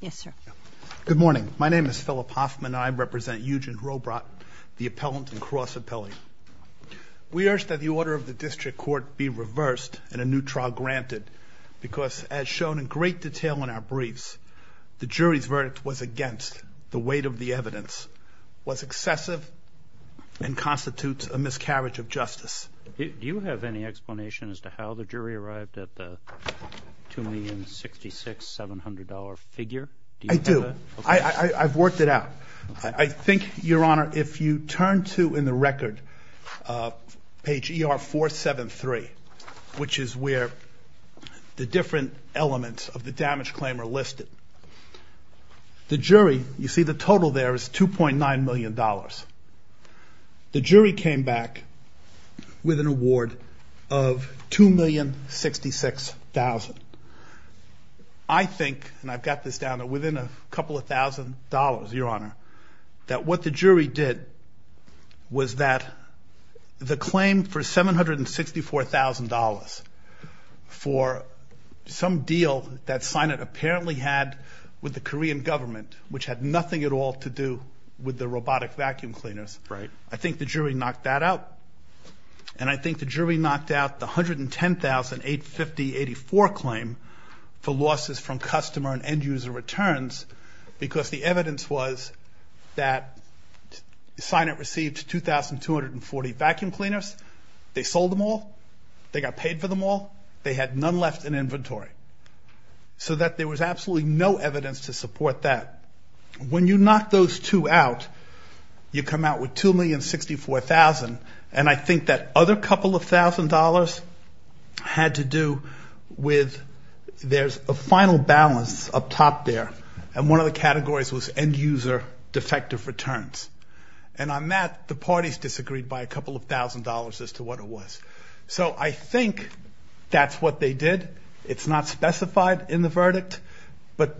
Yes, sir. Good morning. My name is Philip Hoffman and I represent Ujin Robot, the appellant and cross-appellate. We urge that the order of the district court be reversed and a new trial granted because, as shown in great detail in our briefs, the jury's verdict was against. The weight of the evidence was excessive and constitutes a miscarriage of justice. Do you have any explanation as to how the jury arrived at the $2,066,700 figure? I do. I've worked it out. I think, Your Honor, if you turn to, in the record, page ER-473, which is where the different elements of the damage claim are listed, the jury, you see the total there is $2.9 million. The jury came back with an award of $2,066,000. I think, and I've got this down to within a couple of thousand dollars, Your Honor, that what the jury did was that the claim for $764,000 for some deal that Synet apparently had with the Korean government, which had nothing at all to do with the robotic vacuum cleaners. Right. I think the jury knocked that out. And I think the jury knocked out the $110,850.84 claim for losses from customer and end-user returns because the evidence was that Synet received 2,240 vacuum cleaners. They sold them all. They got paid for them all. They had none left in inventory. So that there was absolutely no evidence to support that. When you knock those two out, you come out with $2,064,000, and I think that other couple of thousand dollars had to do with there's a final balance up top there, and one of the categories was end-user defective returns. And on that, the parties disagreed by a couple of thousand dollars as to what it was. So I think that's what they did. It's not specified in the verdict, but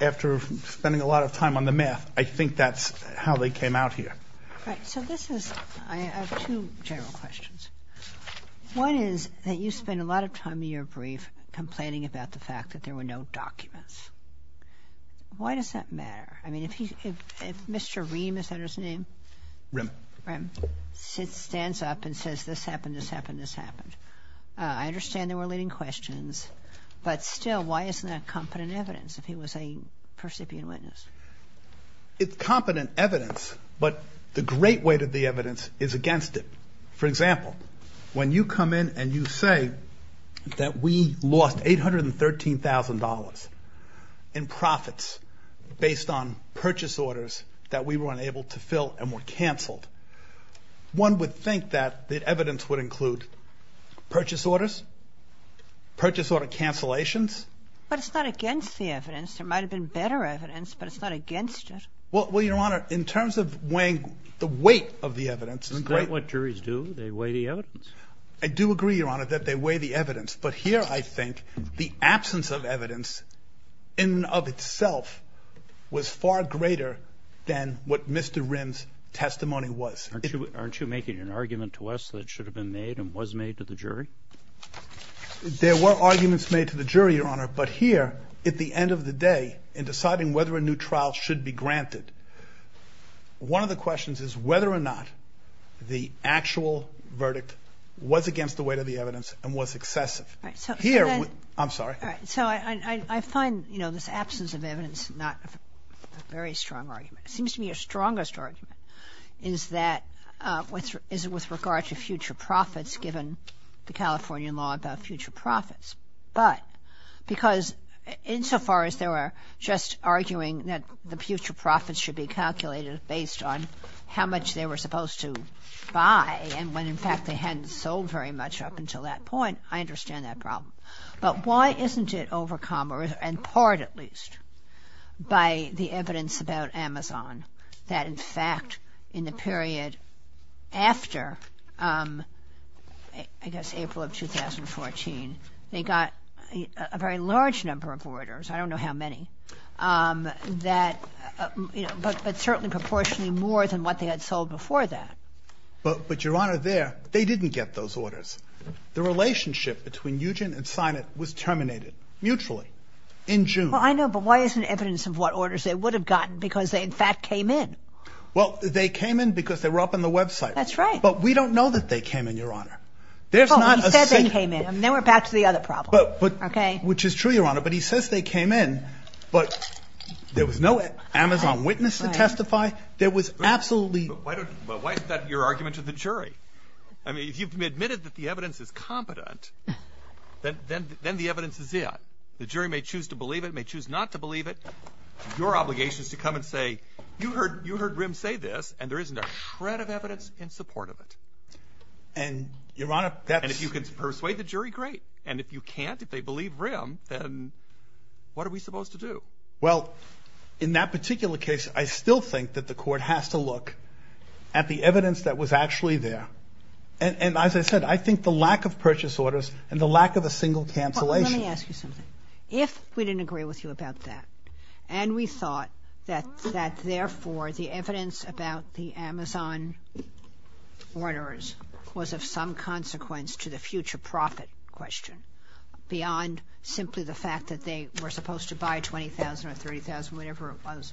after spending a lot of time on the math, I think that's how they came out here. All right. So this is, I have two general questions. One is that you spend a lot of time in your brief complaining about the fact that there were no documents. Why does that matter? I mean, if Mr. Ream, is that his name? Ream. Ream stands up and says, this happened, this happened, this happened. I understand they were leading questions, but still, why isn't that competent evidence if he was a percipient witness? It's competent evidence, but the great weight of the evidence is against it. For example, when you come in and you say that we lost $813,000 in profits based on purchase orders that we were unable to fill and were canceled, one would think that the evidence would include purchase orders, purchase order cancellations. But it's not against the evidence. There might have been better evidence, but it's not against it. Well, Your Honor, in terms of weighing the weight of the evidence... Isn't that what juries do? They weigh the evidence. I do agree, Your Honor, that they weigh the evidence, but here I think the absence of evidence in and of itself was far greater than what Mr. Ream's testimony was. Aren't you making an argument to us that it should have been made and was made to the jury? There were arguments made to the jury, Your Honor, but here, at the end of the day, in deciding whether a new trial should be granted, one of the questions is whether or not the actual verdict was against the weight of the evidence and was excessive. I'm sorry. All right. So I find, you know, this absence of evidence not a very strong argument. It seems to me your strongest argument is that with regard to future profits given the Californian law about future profits. But because insofar as they were just arguing that the future profits should be calculated based on how much they were supposed to buy and when, in fact, they hadn't sold very much up until that point, I understand that problem. But why isn't it overcome, or in part at least, by the evidence about Amazon that, in fact, in the period after, I guess, April of 2014, they got a very large number of orders, I don't know how many, that, you know, but certainly proportionally more than what they had sold before that. But, Your Honor, there, they didn't get those orders. The relationship between Ugin and Sinet was terminated, mutually, in June. Well, I know, but why isn't evidence of what orders they would have gotten because they, in fact, came in? Well, they came in because they were up on the website. That's right. But we don't know that they came in, Your Honor. Oh, he said they came in, and then we're back to the other problem. Which is true, Your Honor, but he says they came in, but there was no Amazon witness to testify. There was absolutely... But why is that your argument to the jury? I mean, if you've admitted that the evidence is competent, then the evidence is in. The jury may choose to believe it, may choose not to believe it. Your obligation is to come and say, you heard Rim say this, and there isn't a shred of evidence in support of it. And, Your Honor, that's... And if you can persuade the jury, great. And if you can't, if they believe Rim, then what are we supposed to do? Well, in that particular case, I still think that the court has to look at the evidence that was actually there. And, as I said, I think the lack of purchase orders and the lack of a single cancellation... Let me ask you something. If we didn't agree with you about that, and we thought that, therefore, the evidence about the Amazon orders was of some consequence to the future profit question, beyond simply the fact that they were supposed to buy $20,000 or $30,000, whatever it was,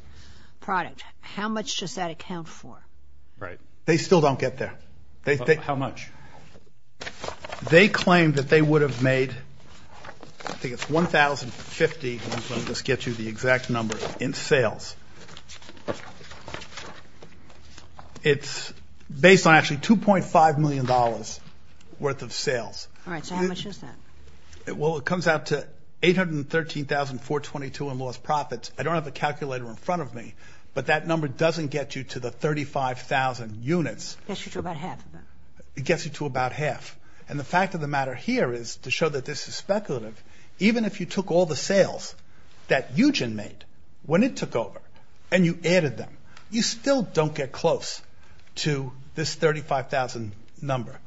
product, how much does that account for? Right. They still don't get there. How much? They claim that they would have made... I think it's $1,050. I'm just going to get you the exact number in sales. It's based on actually $2.5 million worth of sales. All right. So how much is that? Well, it comes out to $813,422 in lost profits. I don't have a calculator in front of me, but that number doesn't get you to the 35,000 units. It gets you to about half of that. It gets you to about half. And the fact of the matter here is, to show that this is speculative, even if you took all the sales that Ugen made when it took over and you added them, you still don't get close to this 35,000 number.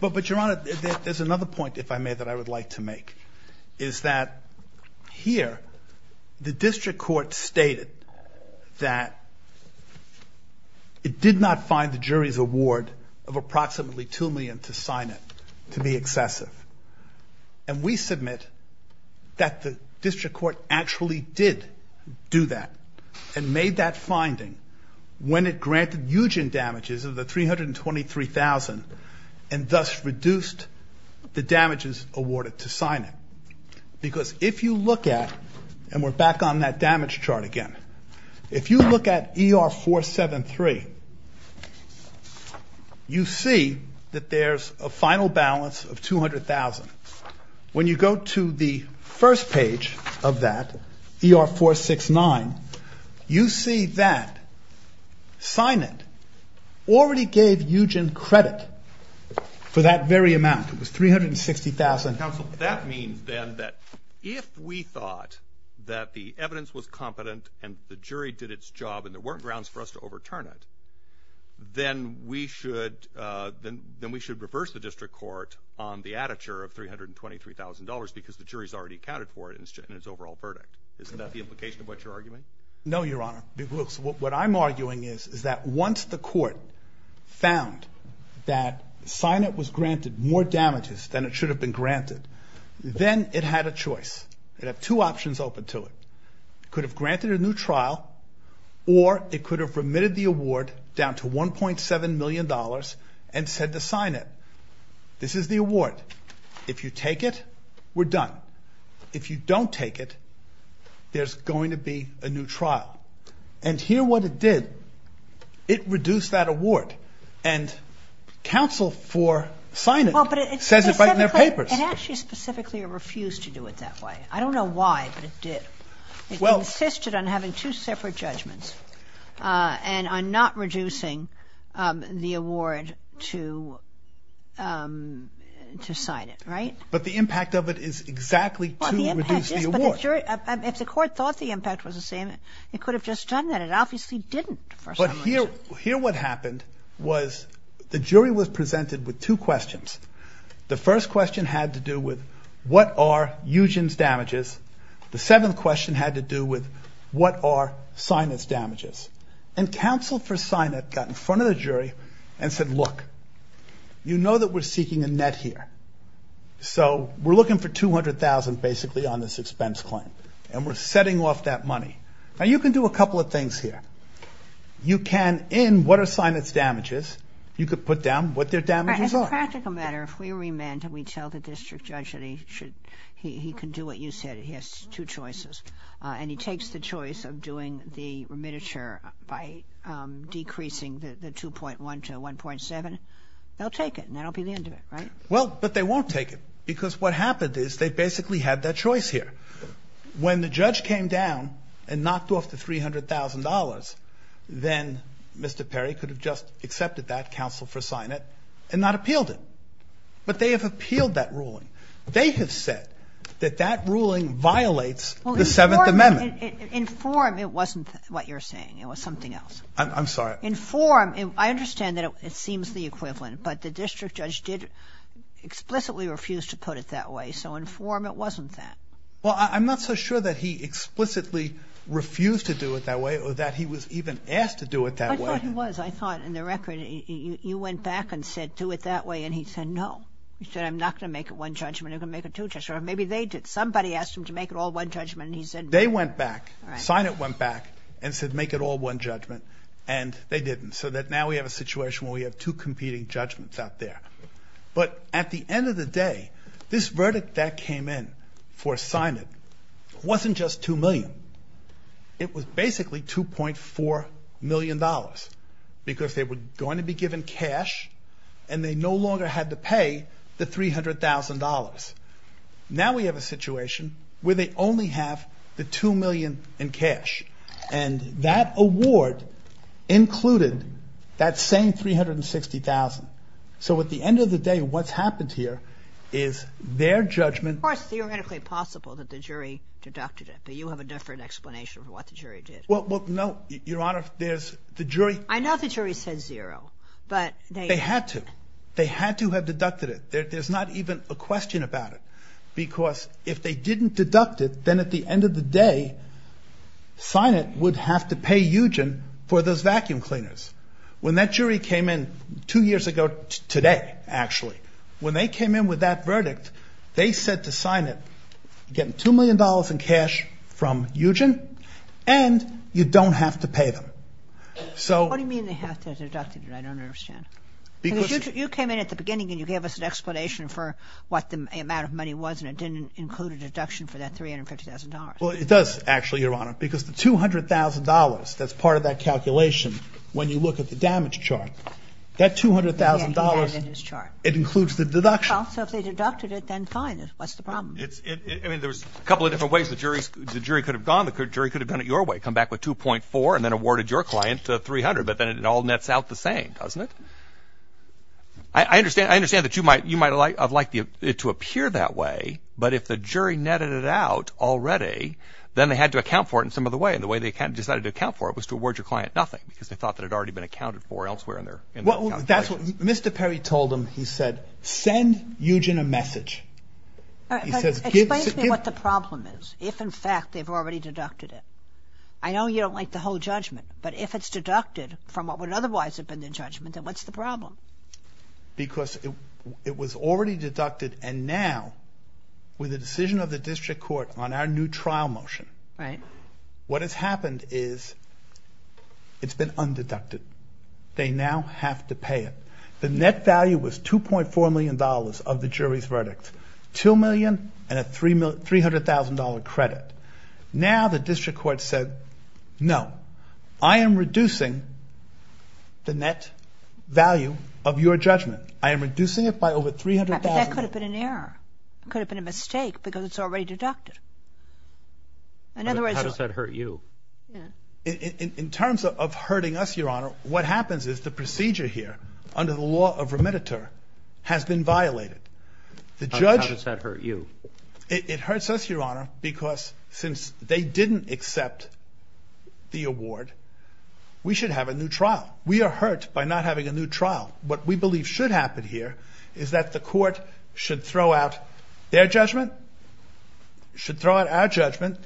But, Your Honor, there's another point, if I may, that I would like to make, is that here the district court stated that it did not find the jury's award of approximately $2 million to sign it to be excessive. And we submit that the district court actually did do that and made that finding when it granted Ugen damages of the $323,000 and thus reduced the damages awarded to sign it. Because if you look at, and we're back on that damage chart again, if you look at ER-473, you see that there's a final balance of $200,000. When you go to the first page of that, ER-469, you see that sign it already gave Ugen credit for that very amount. It was $360,000. Counsel, that means then that if we thought that the evidence was competent and the jury did its job and there weren't grounds for us to overturn it, then we should reverse the district court on the additure of $323,000 because the jury's already accounted for it in its overall verdict. Isn't that the implication of what you're arguing? No, Your Honor. Because what I'm arguing is that once the court found that sign it was granted more damages than it should have been granted, then it had a choice. It had two options open to it. It could have granted a new trial or it could have remitted the award down to $1.7 million and said to sign it. This is the award. If you take it, we're done. If you don't take it, there's going to be a new trial. And here what it did, it reduced that award and counsel for signing it says it right in their papers. It actually specifically refused to do it that way. I don't know why, but it did. It insisted on having two separate judgments and on not reducing the award to sign it, right? But the impact of it is exactly to reduce the award. If the court thought the impact was the same, it could have just done that. It obviously didn't for sign it. But here what happened was the jury was presented with two questions. The first question had to do with what are Eugen's damages. The seventh question had to do with what are sign it's damages. And counsel for sign it got in front of the jury and said, look, you know that we're seeking a net here. So we're looking for $200,000 basically on this expense claim and we're setting off that money. Now you can do a couple of things here. You can in what are sign it's damages, you could put down what their damages are. As a practical matter, if we remand and we tell the district judge that he can do what you said, he has two choices, and he takes the choice of doing the remittiture by decreasing the 2.1 to 1.7, they'll take it and that will be the end of it, right? Well, but they won't take it because what happened is they basically had that choice here. When the judge came down and knocked off the $300,000, then Mr. Perry could have just accepted that counsel for sign it and not appealed it. But they have appealed that ruling. They have said that that ruling violates the Seventh Amendment. In form, it wasn't what you're saying. It was something else. I'm sorry. In form, I understand that it seems the equivalent, but the district judge did explicitly refuse to put it that way. So in form, it wasn't that. Well, I'm not so sure that he explicitly refused to do it that way or that he was even asked to do it that way. I thought he was. I thought in the record you went back and said do it that way, and he said no. He said I'm not going to make it one judgment. I'm going to make it two judgments. Or maybe they did. Somebody asked him to make it all one judgment, and he said no. They went back, sign it went back, and said make it all one judgment, and they didn't. So now we have a situation where we have two competing judgments out there. But at the end of the day, this verdict that came in for assignment wasn't just $2 million. It was basically $2.4 million because they were going to be given cash, and they no longer had to pay the $300,000. Now we have a situation where they only have the $2 million in cash, and that award included that same $360,000. So at the end of the day, what's happened here is their judgment. It's theoretically possible that the jury deducted it, but you have a different explanation for what the jury did. Well, no, Your Honor, there's the jury. I know the jury said zero, but they. They had to. They had to have deducted it. There's not even a question about it because if they didn't deduct it, then at the end of the day, sign it would have to pay Eugen for those vacuum cleaners. When that jury came in two years ago today, actually, when they came in with that verdict, they said to sign it you're getting $2 million in cash from Eugen, and you don't have to pay them. What do you mean they have to have deducted it? I don't understand. Because you came in at the beginning, and you gave us an explanation for what the amount of money was, and it didn't include a deduction for that $350,000. Well, it does actually, Your Honor, because the $200,000 that's part of that calculation, when you look at the damage chart, that $200,000, it includes the deduction. Well, so if they deducted it, then fine. What's the problem? I mean, there's a couple of different ways the jury could have gone. The jury could have gone your way, come back with 2.4, and then awarded your client $300,000, but then it all nets out the same, doesn't it? I understand that you might have liked it to appear that way, but if the jury netted it out already, then they had to account for it in some other way, and the way they decided to account for it was to award your client nothing because they thought that it had already been accounted for elsewhere in their calculation. Well, that's what Mr. Perry told them. He said, send Eugen a message. He says, give – Explain to me what the problem is if, in fact, they've already deducted it. I know you don't like the whole judgment, but if it's deducted from what would otherwise have been the judgment, then what's the problem? Because it was already deducted, and now with the decision of the district court on our new trial motion, what has happened is it's been undeducted. They now have to pay it. The net value was $2.4 million of the jury's verdict, $2 million and a $300,000 credit. Now the district court said, no, I am reducing the net value of your judgment. I am reducing it by over $300,000. That could have been an error. It could have been a mistake because it's already deducted. In other words, How does that hurt you? In terms of hurting us, Your Honor, what happens is the procedure here under the law of remediter has been violated. How does that hurt you? It hurts us, Your Honor, because since they didn't accept the award, we should have a new trial. We are hurt by not having a new trial. What we believe should happen here is that the court should throw out their judgment, should throw out our judgment,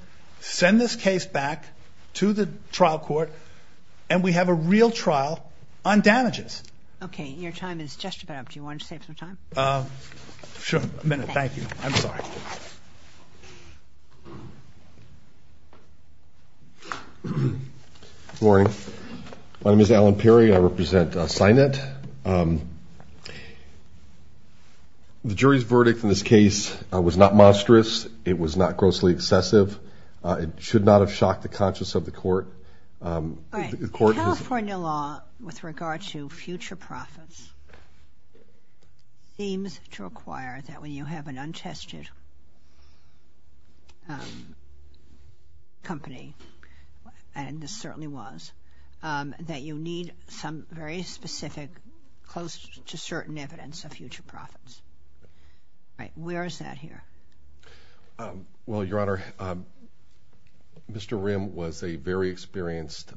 send this case back to the trial court, and we have a real trial on damages. Okay. Your time is just about up. Do you want to save some time? Sure. A minute. Thank you. I'm sorry. Good morning. My name is Alan Peary. I represent Sinet. The jury's verdict in this case was not monstrous. It was not grossly excessive. It should not have shocked the conscience of the court. California law with regard to future profits seems to require that when you have an untested company, and this certainly was, that you need some very specific, close to certain evidence of future profits. Where is that here? Well, Your Honor, Mr. Rim was a very experienced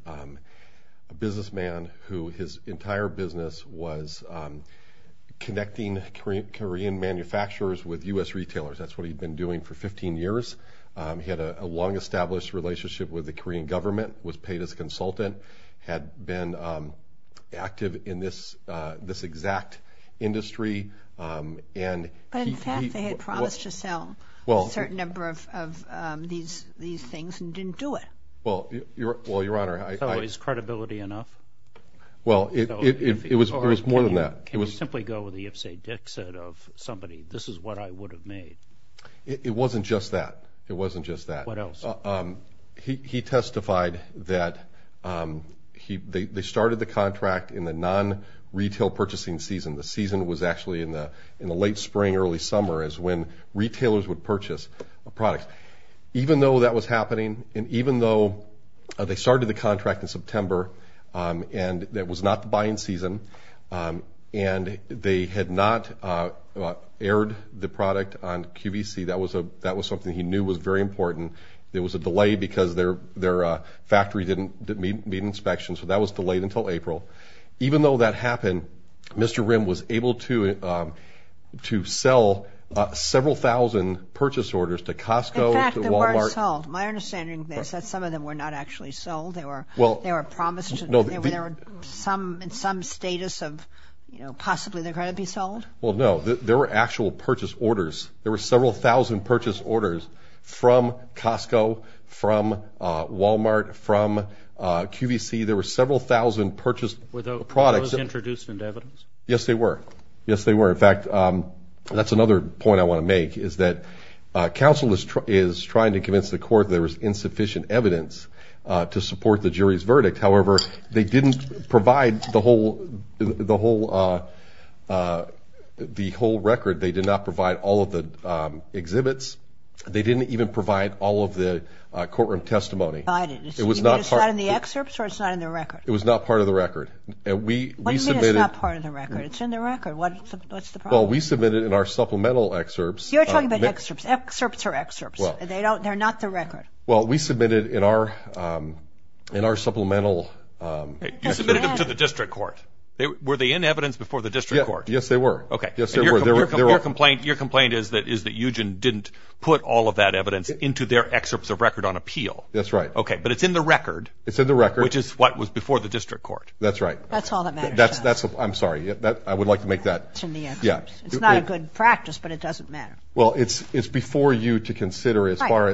businessman who his entire business was connecting Korean manufacturers with U.S. retailers. That's what he'd been doing for 15 years. He had a long-established relationship with the Korean government, was paid as a consultant, had been active in this exact industry. But, in fact, they had promised to sell a certain number of these things and didn't do it. Well, Your Honor. So is credibility enough? Well, it was more than that. Or can you simply go with the if, say, dick set of somebody, this is what I would have made? It wasn't just that. It wasn't just that. What else? He testified that they started the contract in the non-retail purchasing season. The season was actually in the late spring, early summer, is when retailers would purchase a product. Even though that was happening and even though they started the contract in September and that was not the buying season and they had not aired the product on QVC, that was something he knew was very important. There was a delay because their factory didn't meet inspections. So that was delayed until April. Even though that happened, Mr. Rim was able to sell several thousand purchase orders to Costco. In fact, they weren't sold. My understanding is that some of them were not actually sold. They were promised some status of possibly they're going to be sold. Well, no. There were actual purchase orders. There were several thousand purchase orders from Costco, from Walmart, from QVC. There were several thousand purchased products. Were those introduced into evidence? Yes, they were. Yes, they were. In fact, that's another point I want to make is that counsel is trying to convince the court that there was insufficient evidence to support the jury's verdict. However, they didn't provide the whole record. They did not provide all of the exhibits. They didn't even provide all of the courtroom testimony. You mean it's not in the excerpts or it's not in the record? It was not part of the record. What do you mean it's not part of the record? It's in the record. What's the problem? Well, we submitted in our supplemental excerpts. You're talking about excerpts. Excerpts are excerpts. They're not the record. Well, we submitted in our supplemental. You submitted them to the district court. Were they in evidence before the district court? Yes, they were. Okay. Yes, they were. Your complaint is that Eugen didn't put all of that evidence into their excerpts of record on appeal. That's right. Okay, but it's in the record. It's in the record. Which is what was before the district court. That's right. That's all that matters. I'm sorry. I would like to make that. It's in the excerpts. It's not a good practice, but it doesn't matter. Well, it's before you to consider as far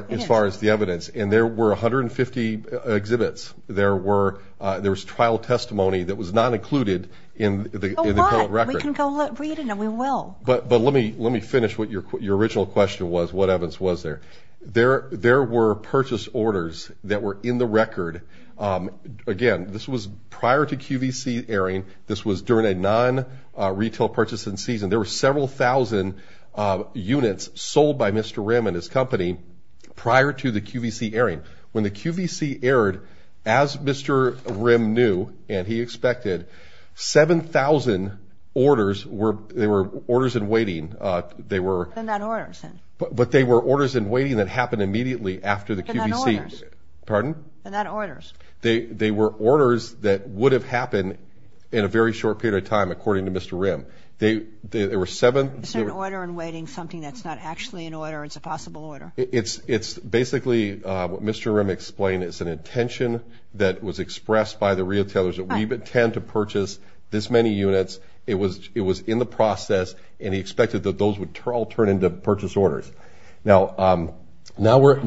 as the evidence, and there were 150 exhibits. There was trial testimony that was not included in the public record. We can go read it, and we will. But let me finish what your original question was, what evidence was there. There were purchase orders that were in the record. Again, this was prior to QVC airing. This was during a non-retail purchasing season. There were several thousand units sold by Mr. Rim and his company prior to the QVC airing. When the QVC aired, as Mr. Rim knew and he expected, 7,000 orders were orders in waiting. They were. They're not orders. But they were orders in waiting that happened immediately after the QVC. They're not orders. Pardon? They're not orders. They were orders that would have happened in a very short period of time, according to Mr. Rim. There were seven. It's an order in waiting, something that's not actually an order. It's a possible order. It's basically what Mr. Rim explained. It's an intention that was expressed by the retailers that we intend to purchase this many units. It was in the process, and he expected that those would all turn into purchase orders. Now we're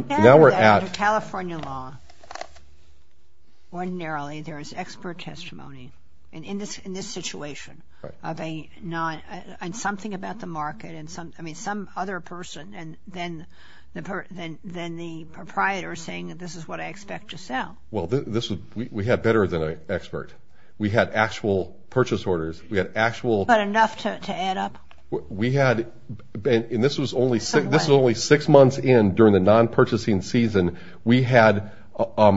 at. California law. Ordinarily, there is expert testimony. In this situation. And something about the market. I mean, some other person than the proprietor saying that this is what I expect to sell. Well, we had better than an expert. We had actual purchase orders. We had actual. But enough to add up? We had. And this was only six months in during the non-purchasing season. We had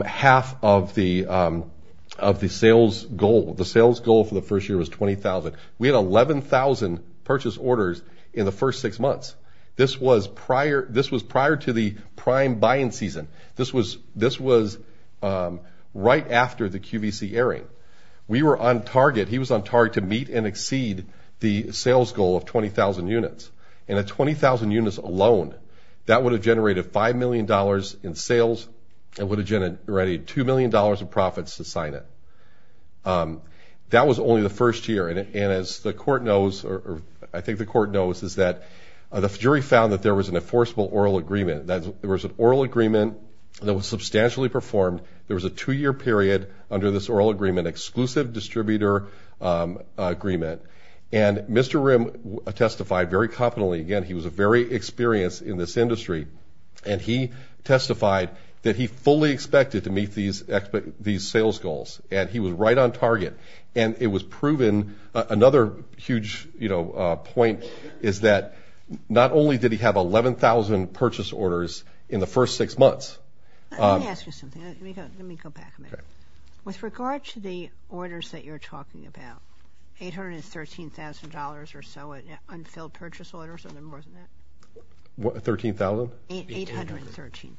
half of the sales goal. The sales goal for the first year was 20,000. We had 11,000 purchase orders in the first six months. This was prior to the prime buying season. This was right after the QVC airing. We were on target. He was on target to meet and exceed the sales goal of 20,000 units. And at 20,000 units alone, that would have generated $5 million in sales. It would have generated $2 million in profits to sign it. That was only the first year. And as the court knows, or I think the court knows, is that the jury found that there was an enforceable oral agreement. There was an oral agreement that was substantially performed. There was a two-year period under this oral agreement, exclusive distributor agreement. And Mr. Rimm testified very confidently. Again, he was a very experienced in this industry. And he testified that he fully expected to meet these sales goals. And he was right on target. And it was proven. Another huge point is that not only did he have 11,000 purchase orders in the first six months. Let me ask you something. Let me go back a minute. Okay. With regard to the orders that you're talking about, $813,000 or so in unfilled purchase orders or more than that? $13,000? $813,000.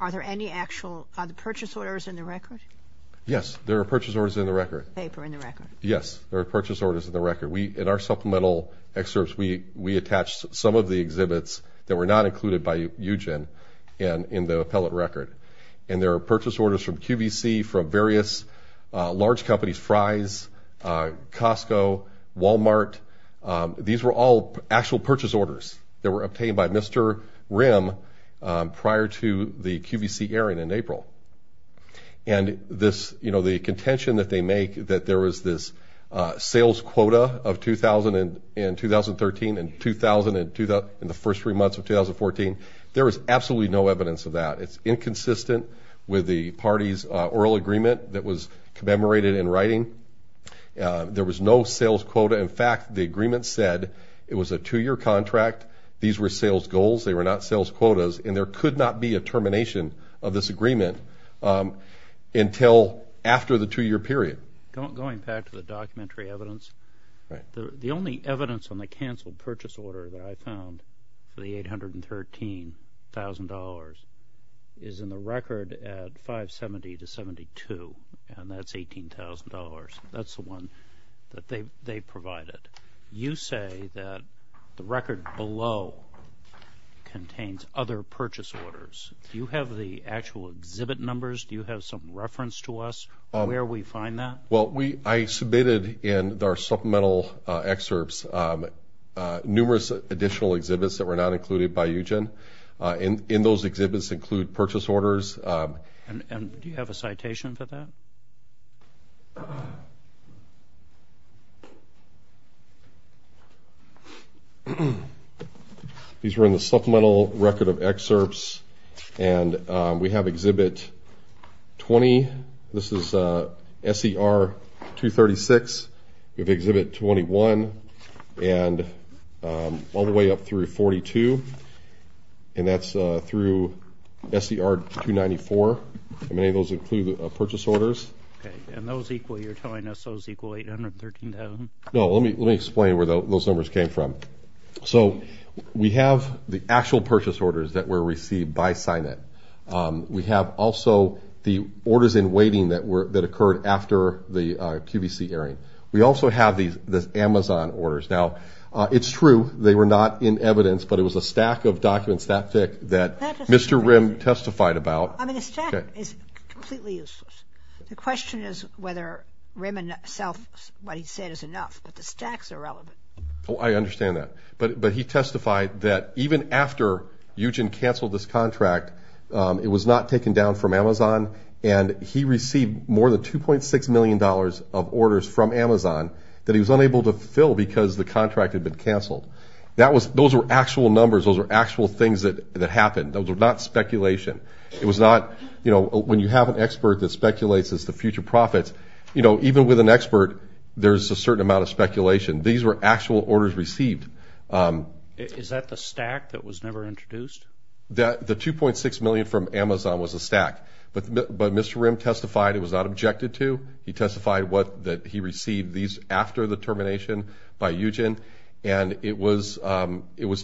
Are there any actual purchase orders in the record? Yes, there are purchase orders in the record. Paper in the record. Yes, there are purchase orders in the record. In our supplemental excerpts, we attached some of the exhibits that were not included by UGEN in the appellate record. And there are purchase orders from QVC, from various large companies, Fry's, Costco, Walmart. These were all actual purchase orders that were obtained by Mr. Rimm prior to the QVC airing in April. And this, you know, the contention that they make that there was this sales quota of 2,000 in 2013 and 2,000 in the first three months of 2014, there is absolutely no evidence of that. It's inconsistent with the party's oral agreement that was commemorated in writing. There was no sales quota. In fact, the agreement said it was a two-year contract. These were sales goals. They were not sales quotas. And there could not be a termination of this agreement until after the two-year period. Going back to the documentary evidence, the only evidence on the canceled purchase order that I found for the $813,000 is in the record at 570 to 72, and that's $18,000. That's the one that they provided. You say that the record below contains other purchase orders. Do you have the actual exhibit numbers? Do you have some reference to us where we find that? Well, I submitted in our supplemental excerpts numerous additional exhibits that were not included by UGEN. And those exhibits include purchase orders. And do you have a citation for that? These were in the supplemental record of excerpts, and we have Exhibit 20. This is SCR 236. We have Exhibit 21 all the way up through 42, and that's through SCR 294. Many of those include purchase orders. And those equal, you're telling us those equal $813,000? No, let me explain where those numbers came from. So we have the actual purchase orders that were received by SCINET. We have also the orders in waiting that occurred after the QVC airing. We also have the Amazon orders. Now, it's true they were not in evidence, but it was a stack of documents that thick that Mr. Rimm testified about. I mean, the stack is completely useless. The question is whether Rimm himself, what he said, is enough. But the stacks are relevant. Oh, I understand that. But he testified that even after Eugene canceled this contract, it was not taken down from Amazon, and he received more than $2.6 million of orders from Amazon that he was unable to fill because the contract had been canceled. Those were actual numbers. Those were actual things that happened. Those were not speculation. It was not, you know, when you have an expert that speculates as to future profits, These were actual orders received. Is that the stack that was never introduced? The $2.6 million from Amazon was a stack. But Mr. Rimm testified it was not objected to. He testified that he received these after the termination by Eugene, and it was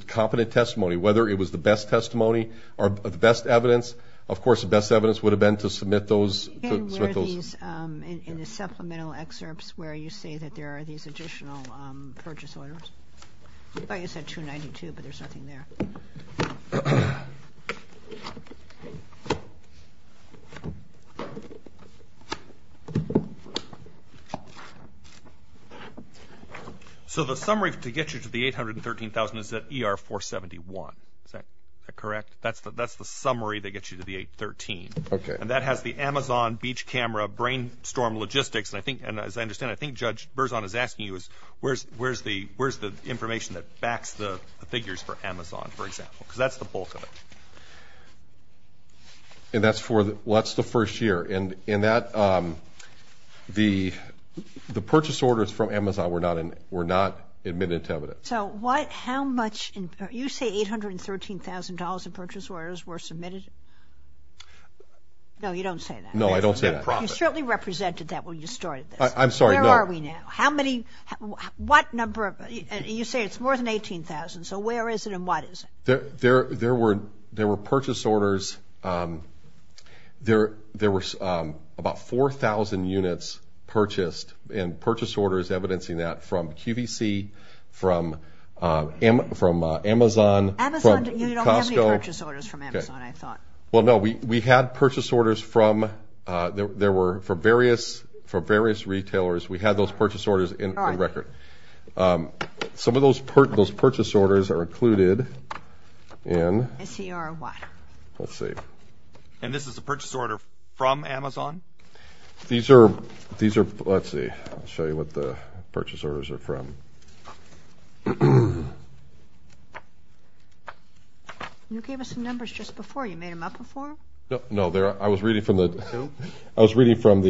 competent testimony. Whether it was the best testimony or the best evidence, of course, the best evidence would have been to submit those. In the supplemental excerpts where you say that there are these additional purchase orders. I thought you said $292,000, but there's nothing there. So the summary to get you to the $813,000 is that ER-471. Is that correct? That's the summary that gets you to the $813,000. Okay. And that has the Amazon beach camera brainstorm logistics. And as I understand, I think Judge Berzon is asking you, where's the information that backs the figures for Amazon, for example? Because that's the bulk of it. And that's the first year. And the purchase orders from Amazon were not admitted to evidence. So what, how much, you say $813,000 of purchase orders were submitted? No, you don't say that. No, I don't say that. You certainly represented that when you started this. I'm sorry, no. Where are we now? How many, what number, you say it's more than 18,000. So where is it and what is it? There were purchase orders, there were about 4,000 units purchased and purchase orders evidencing that from QVC, from Amazon, from Costco. Amazon, you don't have any purchase orders from Amazon, I thought. Well, no, we had purchase orders from, there were, for various retailers, we had those purchase orders in record. All right. Some of those purchase orders are included in. ACR what? Let's see. And this is a purchase order from Amazon? These are, let's see, I'll show you what the purchase orders are from. You gave us the numbers just before, you made them up before? No, I was reading from the, I was reading from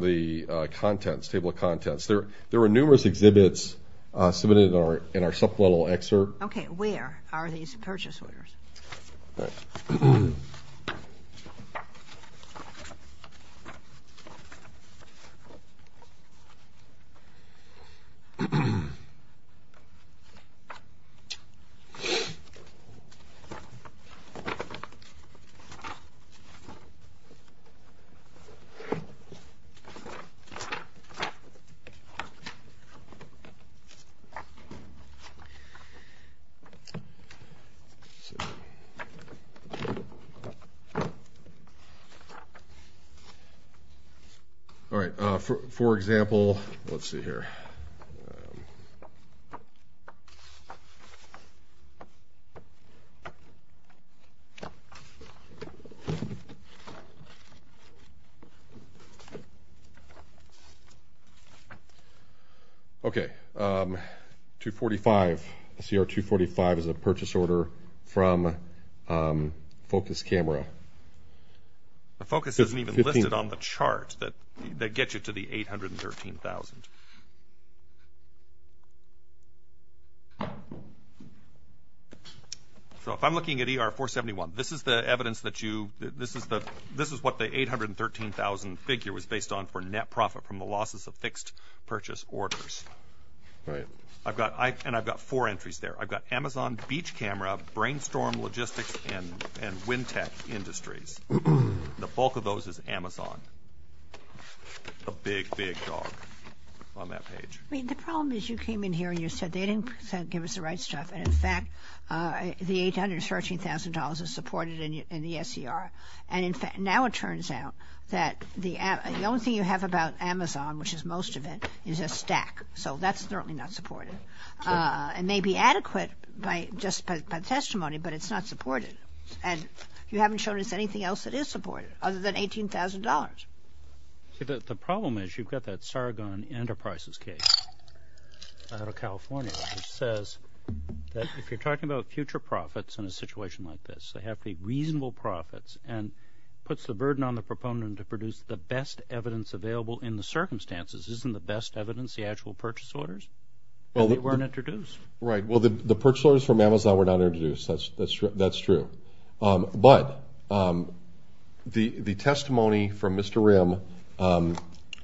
the contents, table of contents. There were numerous exhibits submitted in our supplemental excerpt. Okay, where are these purchase orders? All right. All right. For example, let's see here. Okay. 245, ACR 245 is a purchase order from Focus Camera. The Focus isn't even listed on the chart that gets you to the 813,000. So if I'm looking at ER 471, this is the evidence that you, this is what the 813,000 figure was based on for net profit from the losses of fixed purchase orders. All right. I've got, and I've got four entries there. I've got Amazon Beach Camera, Brainstorm Logistics, and WinTech Industries. The bulk of those is Amazon. A big, big dog on that page. I mean, the problem is you came in here and you said they didn't give us the right stuff. And in fact, the 813,000 dollars is supported in the SCR. And in fact, now it turns out that the only thing you have about Amazon, which is most of it, is a stack. So that's certainly not supported. It may be adequate just by testimony, but it's not supported. And you haven't shown us anything else that is supported other than $18,000. The problem is you've got that Sargon Enterprises case out of California which says that if you're talking about future profits in a situation like this, they have to be reasonable profits, and puts the burden on the proponent to produce the best evidence available in the circumstances. Isn't the best evidence the actual purchase orders that weren't introduced? Right. Well, the purchase orders from Amazon were not introduced. That's true. But the testimony from Mr. Rim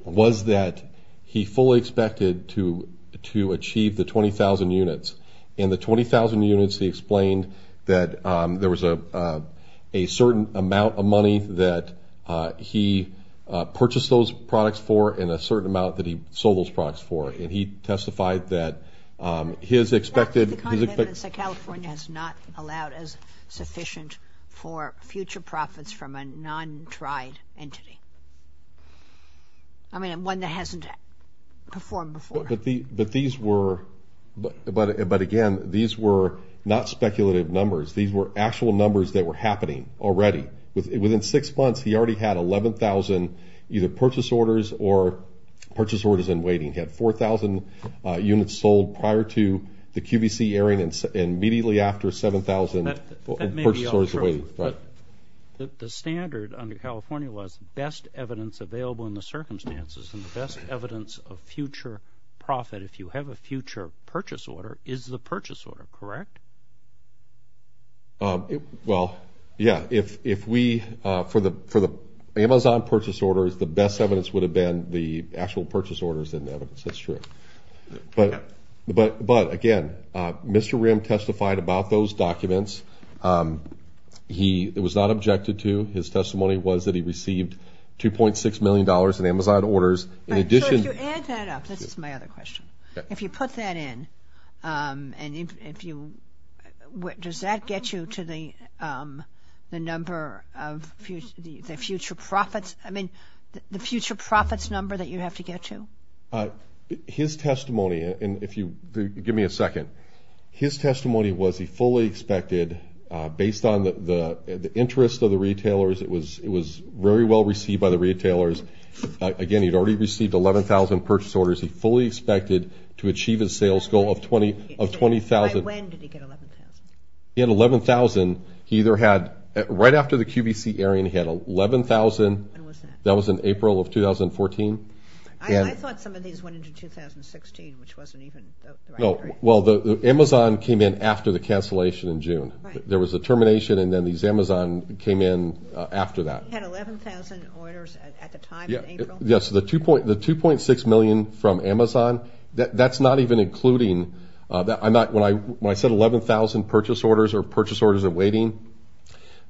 was that he fully expected to achieve the 20,000 units. In the 20,000 units, he explained that there was a certain amount of money that he purchased those products for and a certain amount that he sold those products for. And he testified that his expected – That's the kind of evidence that California has not allowed as sufficient for future profits from a non-tried entity. I mean, one that hasn't performed before. But these were – but, again, these were not speculative numbers. These were actual numbers that were happening already. Within six months, he already had 11,000 either purchase orders or purchase orders in waiting. He had 4,000 units sold prior to the QVC airing and immediately after 7,000 purchase orders in waiting. That may be untrue. Right. The standard under California was best evidence available in the circumstances and the best evidence of future profit if you have a future purchase order is the purchase order, correct? Well, yeah. If we – for the Amazon purchase orders, the best evidence would have been the actual purchase orders in the evidence. That's true. But, again, Mr. Rim testified about those documents. He was not objected to. His testimony was that he received $2.6 million in Amazon orders. In addition – So if you add that up – this is my other question. If you put that in and if you – does that get you to the number of the future profits – I mean, the future profits number that you have to get to? His testimony was he fully expected, based on the interest of the retailers, it was very well received by the retailers. Again, he had already received 11,000 purchase orders. He fully expected to achieve his sales goal of 20,000. By when did he get 11,000? He had 11,000. He either had – right after the QVC airing, he had 11,000. When was that? That was in April of 2014. I thought some of these went into 2016, which wasn't even – Well, the Amazon came in after the cancellation in June. There was a termination, and then these Amazon came in after that. He had 11,000 orders at the time in April? Yes. The 2.6 million from Amazon, that's not even including – when I said 11,000 purchase orders or purchase orders are waiting,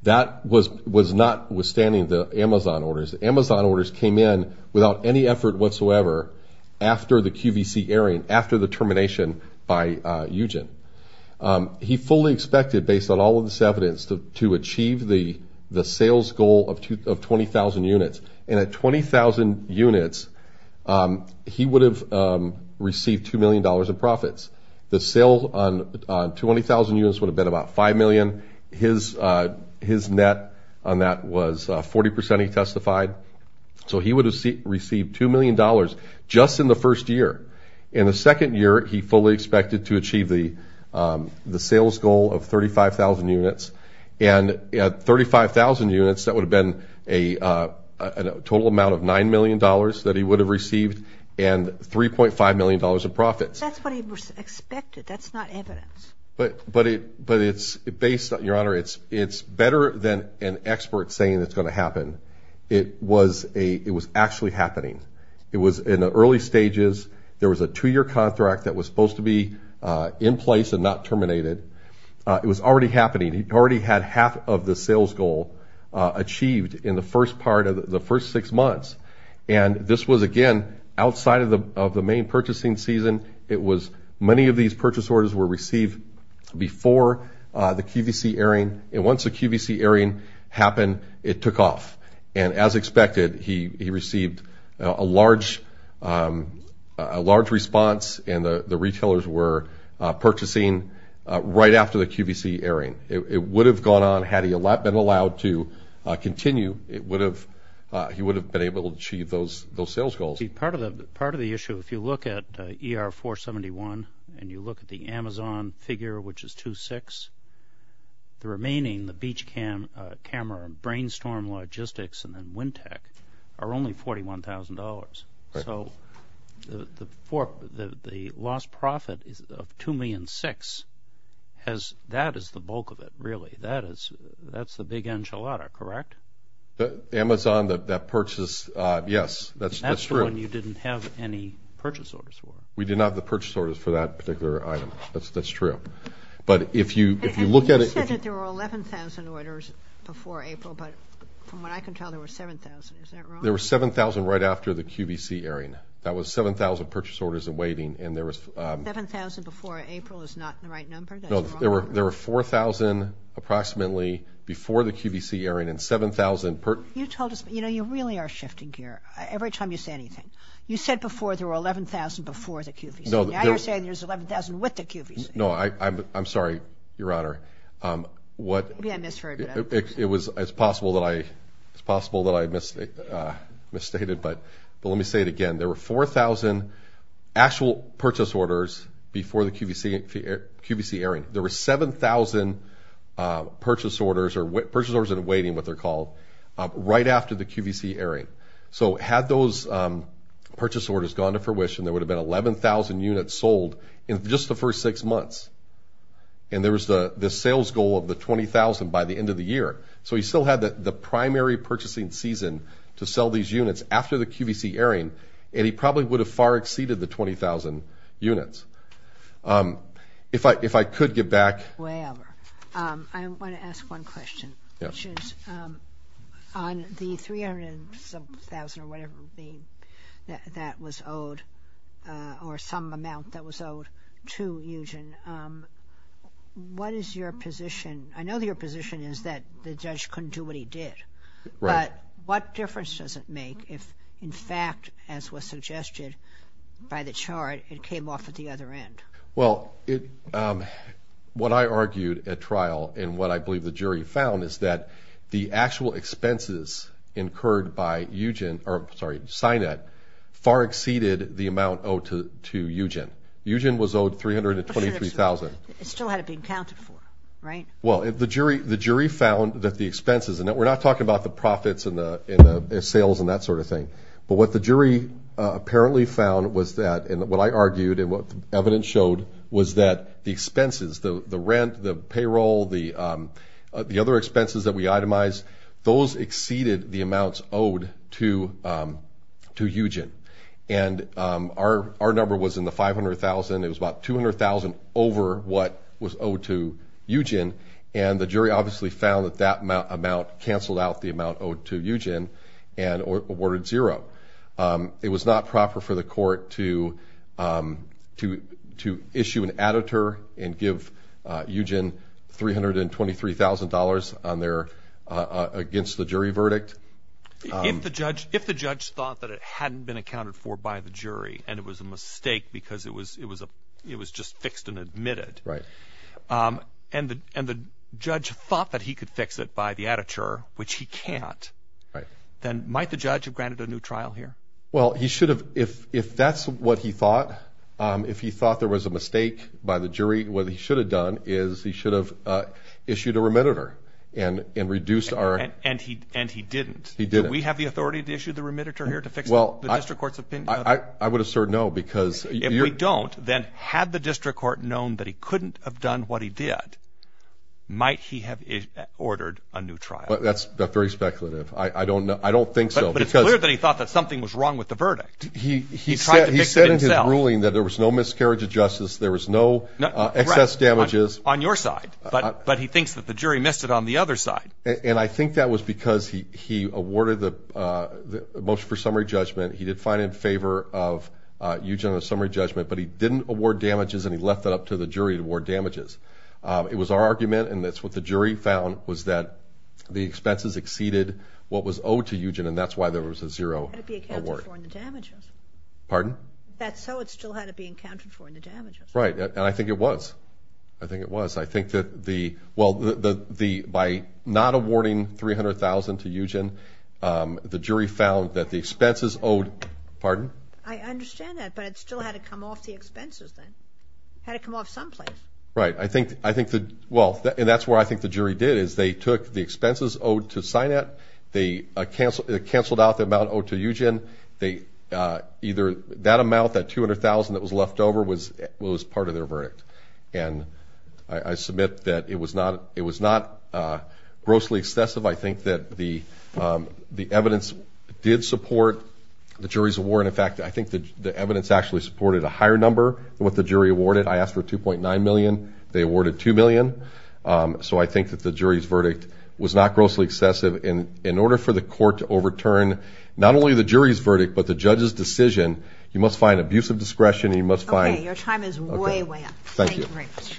that was notwithstanding the Amazon orders. The Amazon orders came in without any effort whatsoever after the QVC airing, after the termination by Eugene. He fully expected, based on all of this evidence, to achieve the sales goal of 20,000 units. And at 20,000 units, he would have received $2 million in profits. The sale on 20,000 units would have been about 5 million. His net on that was 40 percent, he testified. So he would have received $2 million just in the first year In the second year, he fully expected to achieve the sales goal of 35,000 units. And at 35,000 units, that would have been a total amount of $9 million that he would have received and $3.5 million in profits. That's what he expected. That's not evidence. But it's based on – Your Honor, it's better than an expert saying it's going to happen. It was actually happening. It was in the early stages. There was a two-year contract that was supposed to be in place and not terminated. It was already happening. He already had half of the sales goal achieved in the first part of the first six months. And this was, again, outside of the main purchasing season. It was – many of these purchase orders were received before the QVC airing. And once the QVC airing happened, it took off. And as expected, he received a large response, and the retailers were purchasing right after the QVC airing. It would have gone on had he been allowed to continue. He would have been able to achieve those sales goals. Part of the issue, if you look at ER-471 and you look at the Amazon figure, which is 2-6, the remaining, the beach camera and brainstorm logistics and then wind tech, are only $41,000. So the lost profit of $2.6 million has – that is the bulk of it, really. That is – that's the big enchilada, correct? Amazon, that purchase – yes, that's true. That's the one you didn't have any purchase orders for. We did not have the purchase orders for that particular item. That's true. But if you look at it – You said that there were 11,000 orders before April, but from what I can tell, there were 7,000. Is that wrong? There were 7,000 right after the QVC airing. That was 7,000 purchase orders awaiting, and there was – 7,000 before April is not the right number? No, there were 4,000 approximately before the QVC airing and 7,000 – You told us – you know, you really are shifting gear every time you say anything. You said before there were 11,000 before the QVC. Now you're saying there's 11,000 with the QVC. No, I'm sorry, Your Honor. What – Yeah, I misheard. It was – it's possible that I – it's possible that I misstated, but let me say it again. There were 4,000 actual purchase orders before the QVC airing. There were 7,000 purchase orders or – purchase orders awaiting, what they're called, right after the QVC airing. So had those purchase orders gone to fruition, there would have been 11,000 units sold in just the first six months, and there was the sales goal of the 20,000 by the end of the year. So he still had the primary purchasing season to sell these units after the QVC airing, and he probably would have far exceeded the 20,000 units. If I could get back – Well, I want to ask one question. Yes. On the 300,000 or whatever that was owed or some amount that was owed to Eugen, what is your position? I know your position is that the judge couldn't do what he did. Right. But what difference does it make if, in fact, as was suggested by the chart, it came off at the other end? Well, what I argued at trial and what I believe the jury found is that the actual expenses incurred by Eugen – or, sorry, Sinet far exceeded the amount owed to Eugen. Eugen was owed 323,000. It still had to be accounted for, right? Well, the jury found that the expenses – and we're not talking about the profits and the sales and that sort of thing. But what the jury apparently found was that – and what I argued and what the evidence showed was that the expenses, the rent, the payroll, the other expenses that we itemized, those exceeded the amounts owed to Eugen. And our number was in the 500,000. It was about 200,000 over what was owed to Eugen, and the jury obviously found that that amount canceled out the amount owed to Eugen and awarded zero. It was not proper for the court to issue an editor and give Eugen $323,000 against the jury verdict. If the judge thought that it hadn't been accounted for by the jury and it was a mistake because it was just fixed and admitted. Right. And the judge thought that he could fix it by the editor, which he can't. Right. Then might the judge have granted a new trial here? Well, he should have. If that's what he thought, if he thought there was a mistake by the jury, what he should have done is he should have issued a remediator and reduced our – And he didn't. He didn't. Do we have the authority to issue the remediator here to fix the district court's opinion? I would assert no because – If we don't, then had the district court known that he couldn't have done what he did, might he have ordered a new trial? But that's very speculative. I don't think so because – But it's clear that he thought that something was wrong with the verdict. He tried to fix it himself. He said in his ruling that there was no miscarriage of justice. There was no excess damages. Right. On your side. But he thinks that the jury missed it on the other side. And I think that was because he awarded the motion for summary judgment. He did find it in favor of Eugen on the summary judgment, but he didn't award damages and he left that up to the jury to award damages. It was our argument, and that's what the jury found, was that the expenses exceeded what was owed to Eugen, and that's why there was a zero award. It had to be accounted for in the damages. Pardon? If that's so, it still had to be accounted for in the damages. Right. And I think it was. I think it was. I think that the – Pardon? I understand that, but it still had to come off the expenses then. It had to come off someplace. Right. I think the – well, and that's what I think the jury did, is they took the expenses owed to Sinat, they canceled out the amount owed to Eugen. Either that amount, that $200,000 that was left over, was part of their verdict. And I submit that it was not grossly excessive. I think that the evidence did support the jury's award. In fact, I think the evidence actually supported a higher number than what the jury awarded. I asked for $2.9 million. They awarded $2 million. So I think that the jury's verdict was not grossly excessive. In order for the court to overturn not only the jury's verdict but the judge's decision, you must find abusive discretion and you must find – Okay. Your time is way, way up. Thank you. Thank you very much.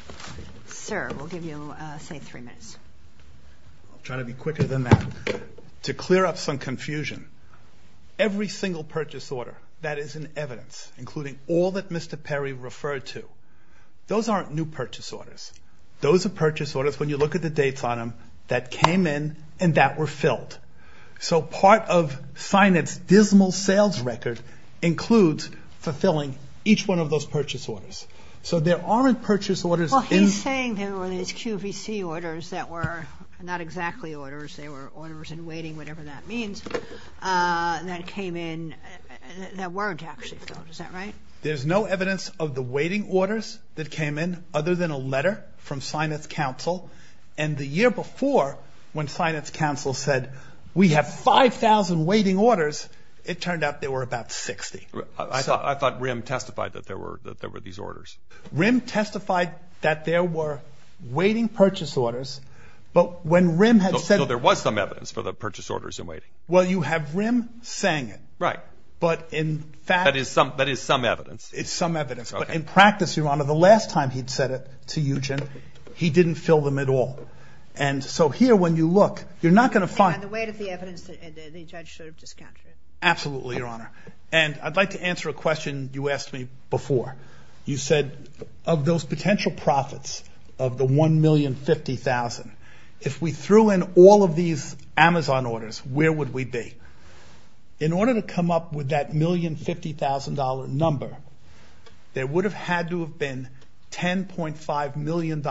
Sir, we'll give you, say, three minutes. I'll try to be quicker than that to clear up some confusion. Every single purchase order that is in evidence, including all that Mr. Perry referred to, those aren't new purchase orders. Those are purchase orders, when you look at the dates on them, that came in and that were filled. So part of Sinat's dismal sales record includes fulfilling each one of those purchase orders. So there aren't purchase orders in – not exactly orders. They were orders in waiting, whatever that means, that came in that weren't actually filled. Is that right? There's no evidence of the waiting orders that came in other than a letter from Sinat's counsel. And the year before, when Sinat's counsel said, we have 5,000 waiting orders, it turned out there were about 60. I thought RIM testified that there were these orders. RIM testified that there were waiting purchase orders, but when RIM had said – So there was some evidence for the purchase orders in waiting. Well, you have RIM saying it. Right. But in fact – That is some evidence. It's some evidence. But in practice, Your Honor, the last time he'd said it to you, Jim, he didn't fill them at all. And so here, when you look, you're not going to find – And on the weight of the evidence, the judge should have discounted it. Absolutely, Your Honor. And I'd like to answer a question you asked me before. You said, of those potential profits of the $1,050,000, if we threw in all of these Amazon orders, where would we be? In order to come up with that $1,050,000 number, there would have had to have been $10.5 million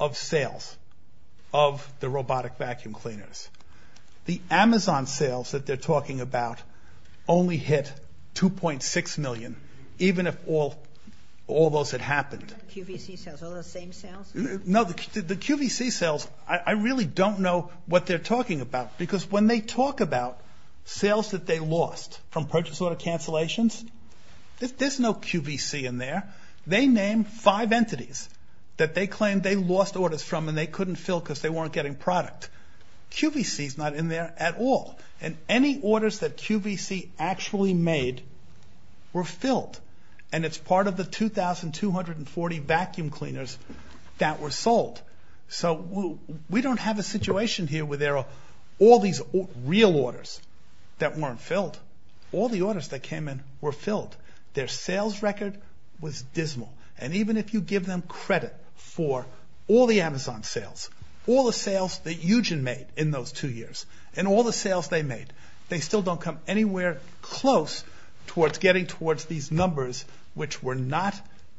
of sales of the robotic vacuum cleaners. The Amazon sales that they're talking about only hit $2.6 million, even if all those had happened. QVC sales, all those same sales? No, the QVC sales, I really don't know what they're talking about. Because when they talk about sales that they lost from purchase order cancellations, there's no QVC in there. They named five entities that they claimed they lost orders from and they couldn't fill because they weren't getting product. QVC is not in there at all. And any orders that QVC actually made were filled. And it's part of the 2,240 vacuum cleaners that were sold. So we don't have a situation here where there are all these real orders that weren't filled. All the orders that came in were filled. Their sales record was dismal. And even if you give them credit for all the Amazon sales, all the sales that Eugen made in those two years, and all the sales they made, they still don't come anywhere close towards getting towards these numbers, which were not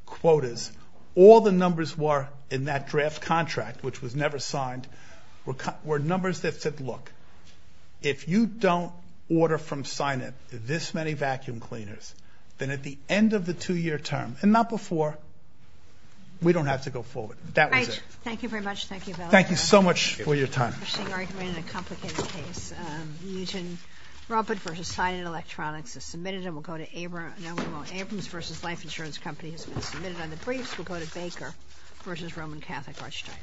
quotas. All the numbers were in that draft contract, which was never signed, were numbers that said, look, if you don't order from Sineb this many vacuum cleaners, then at the end of the two-year term, and not before, we don't have to go forward. That was it. Thank you very much. Thank you. Thank you so much for your time. Interesting argument and a complicated case. Eugen Ruppert v. Sineb Electronics is submitted and will go to Abrams. Abrams v. Life Insurance Company has been submitted on the briefs. We'll go to Baker v. Roman Catholic Archdiocese.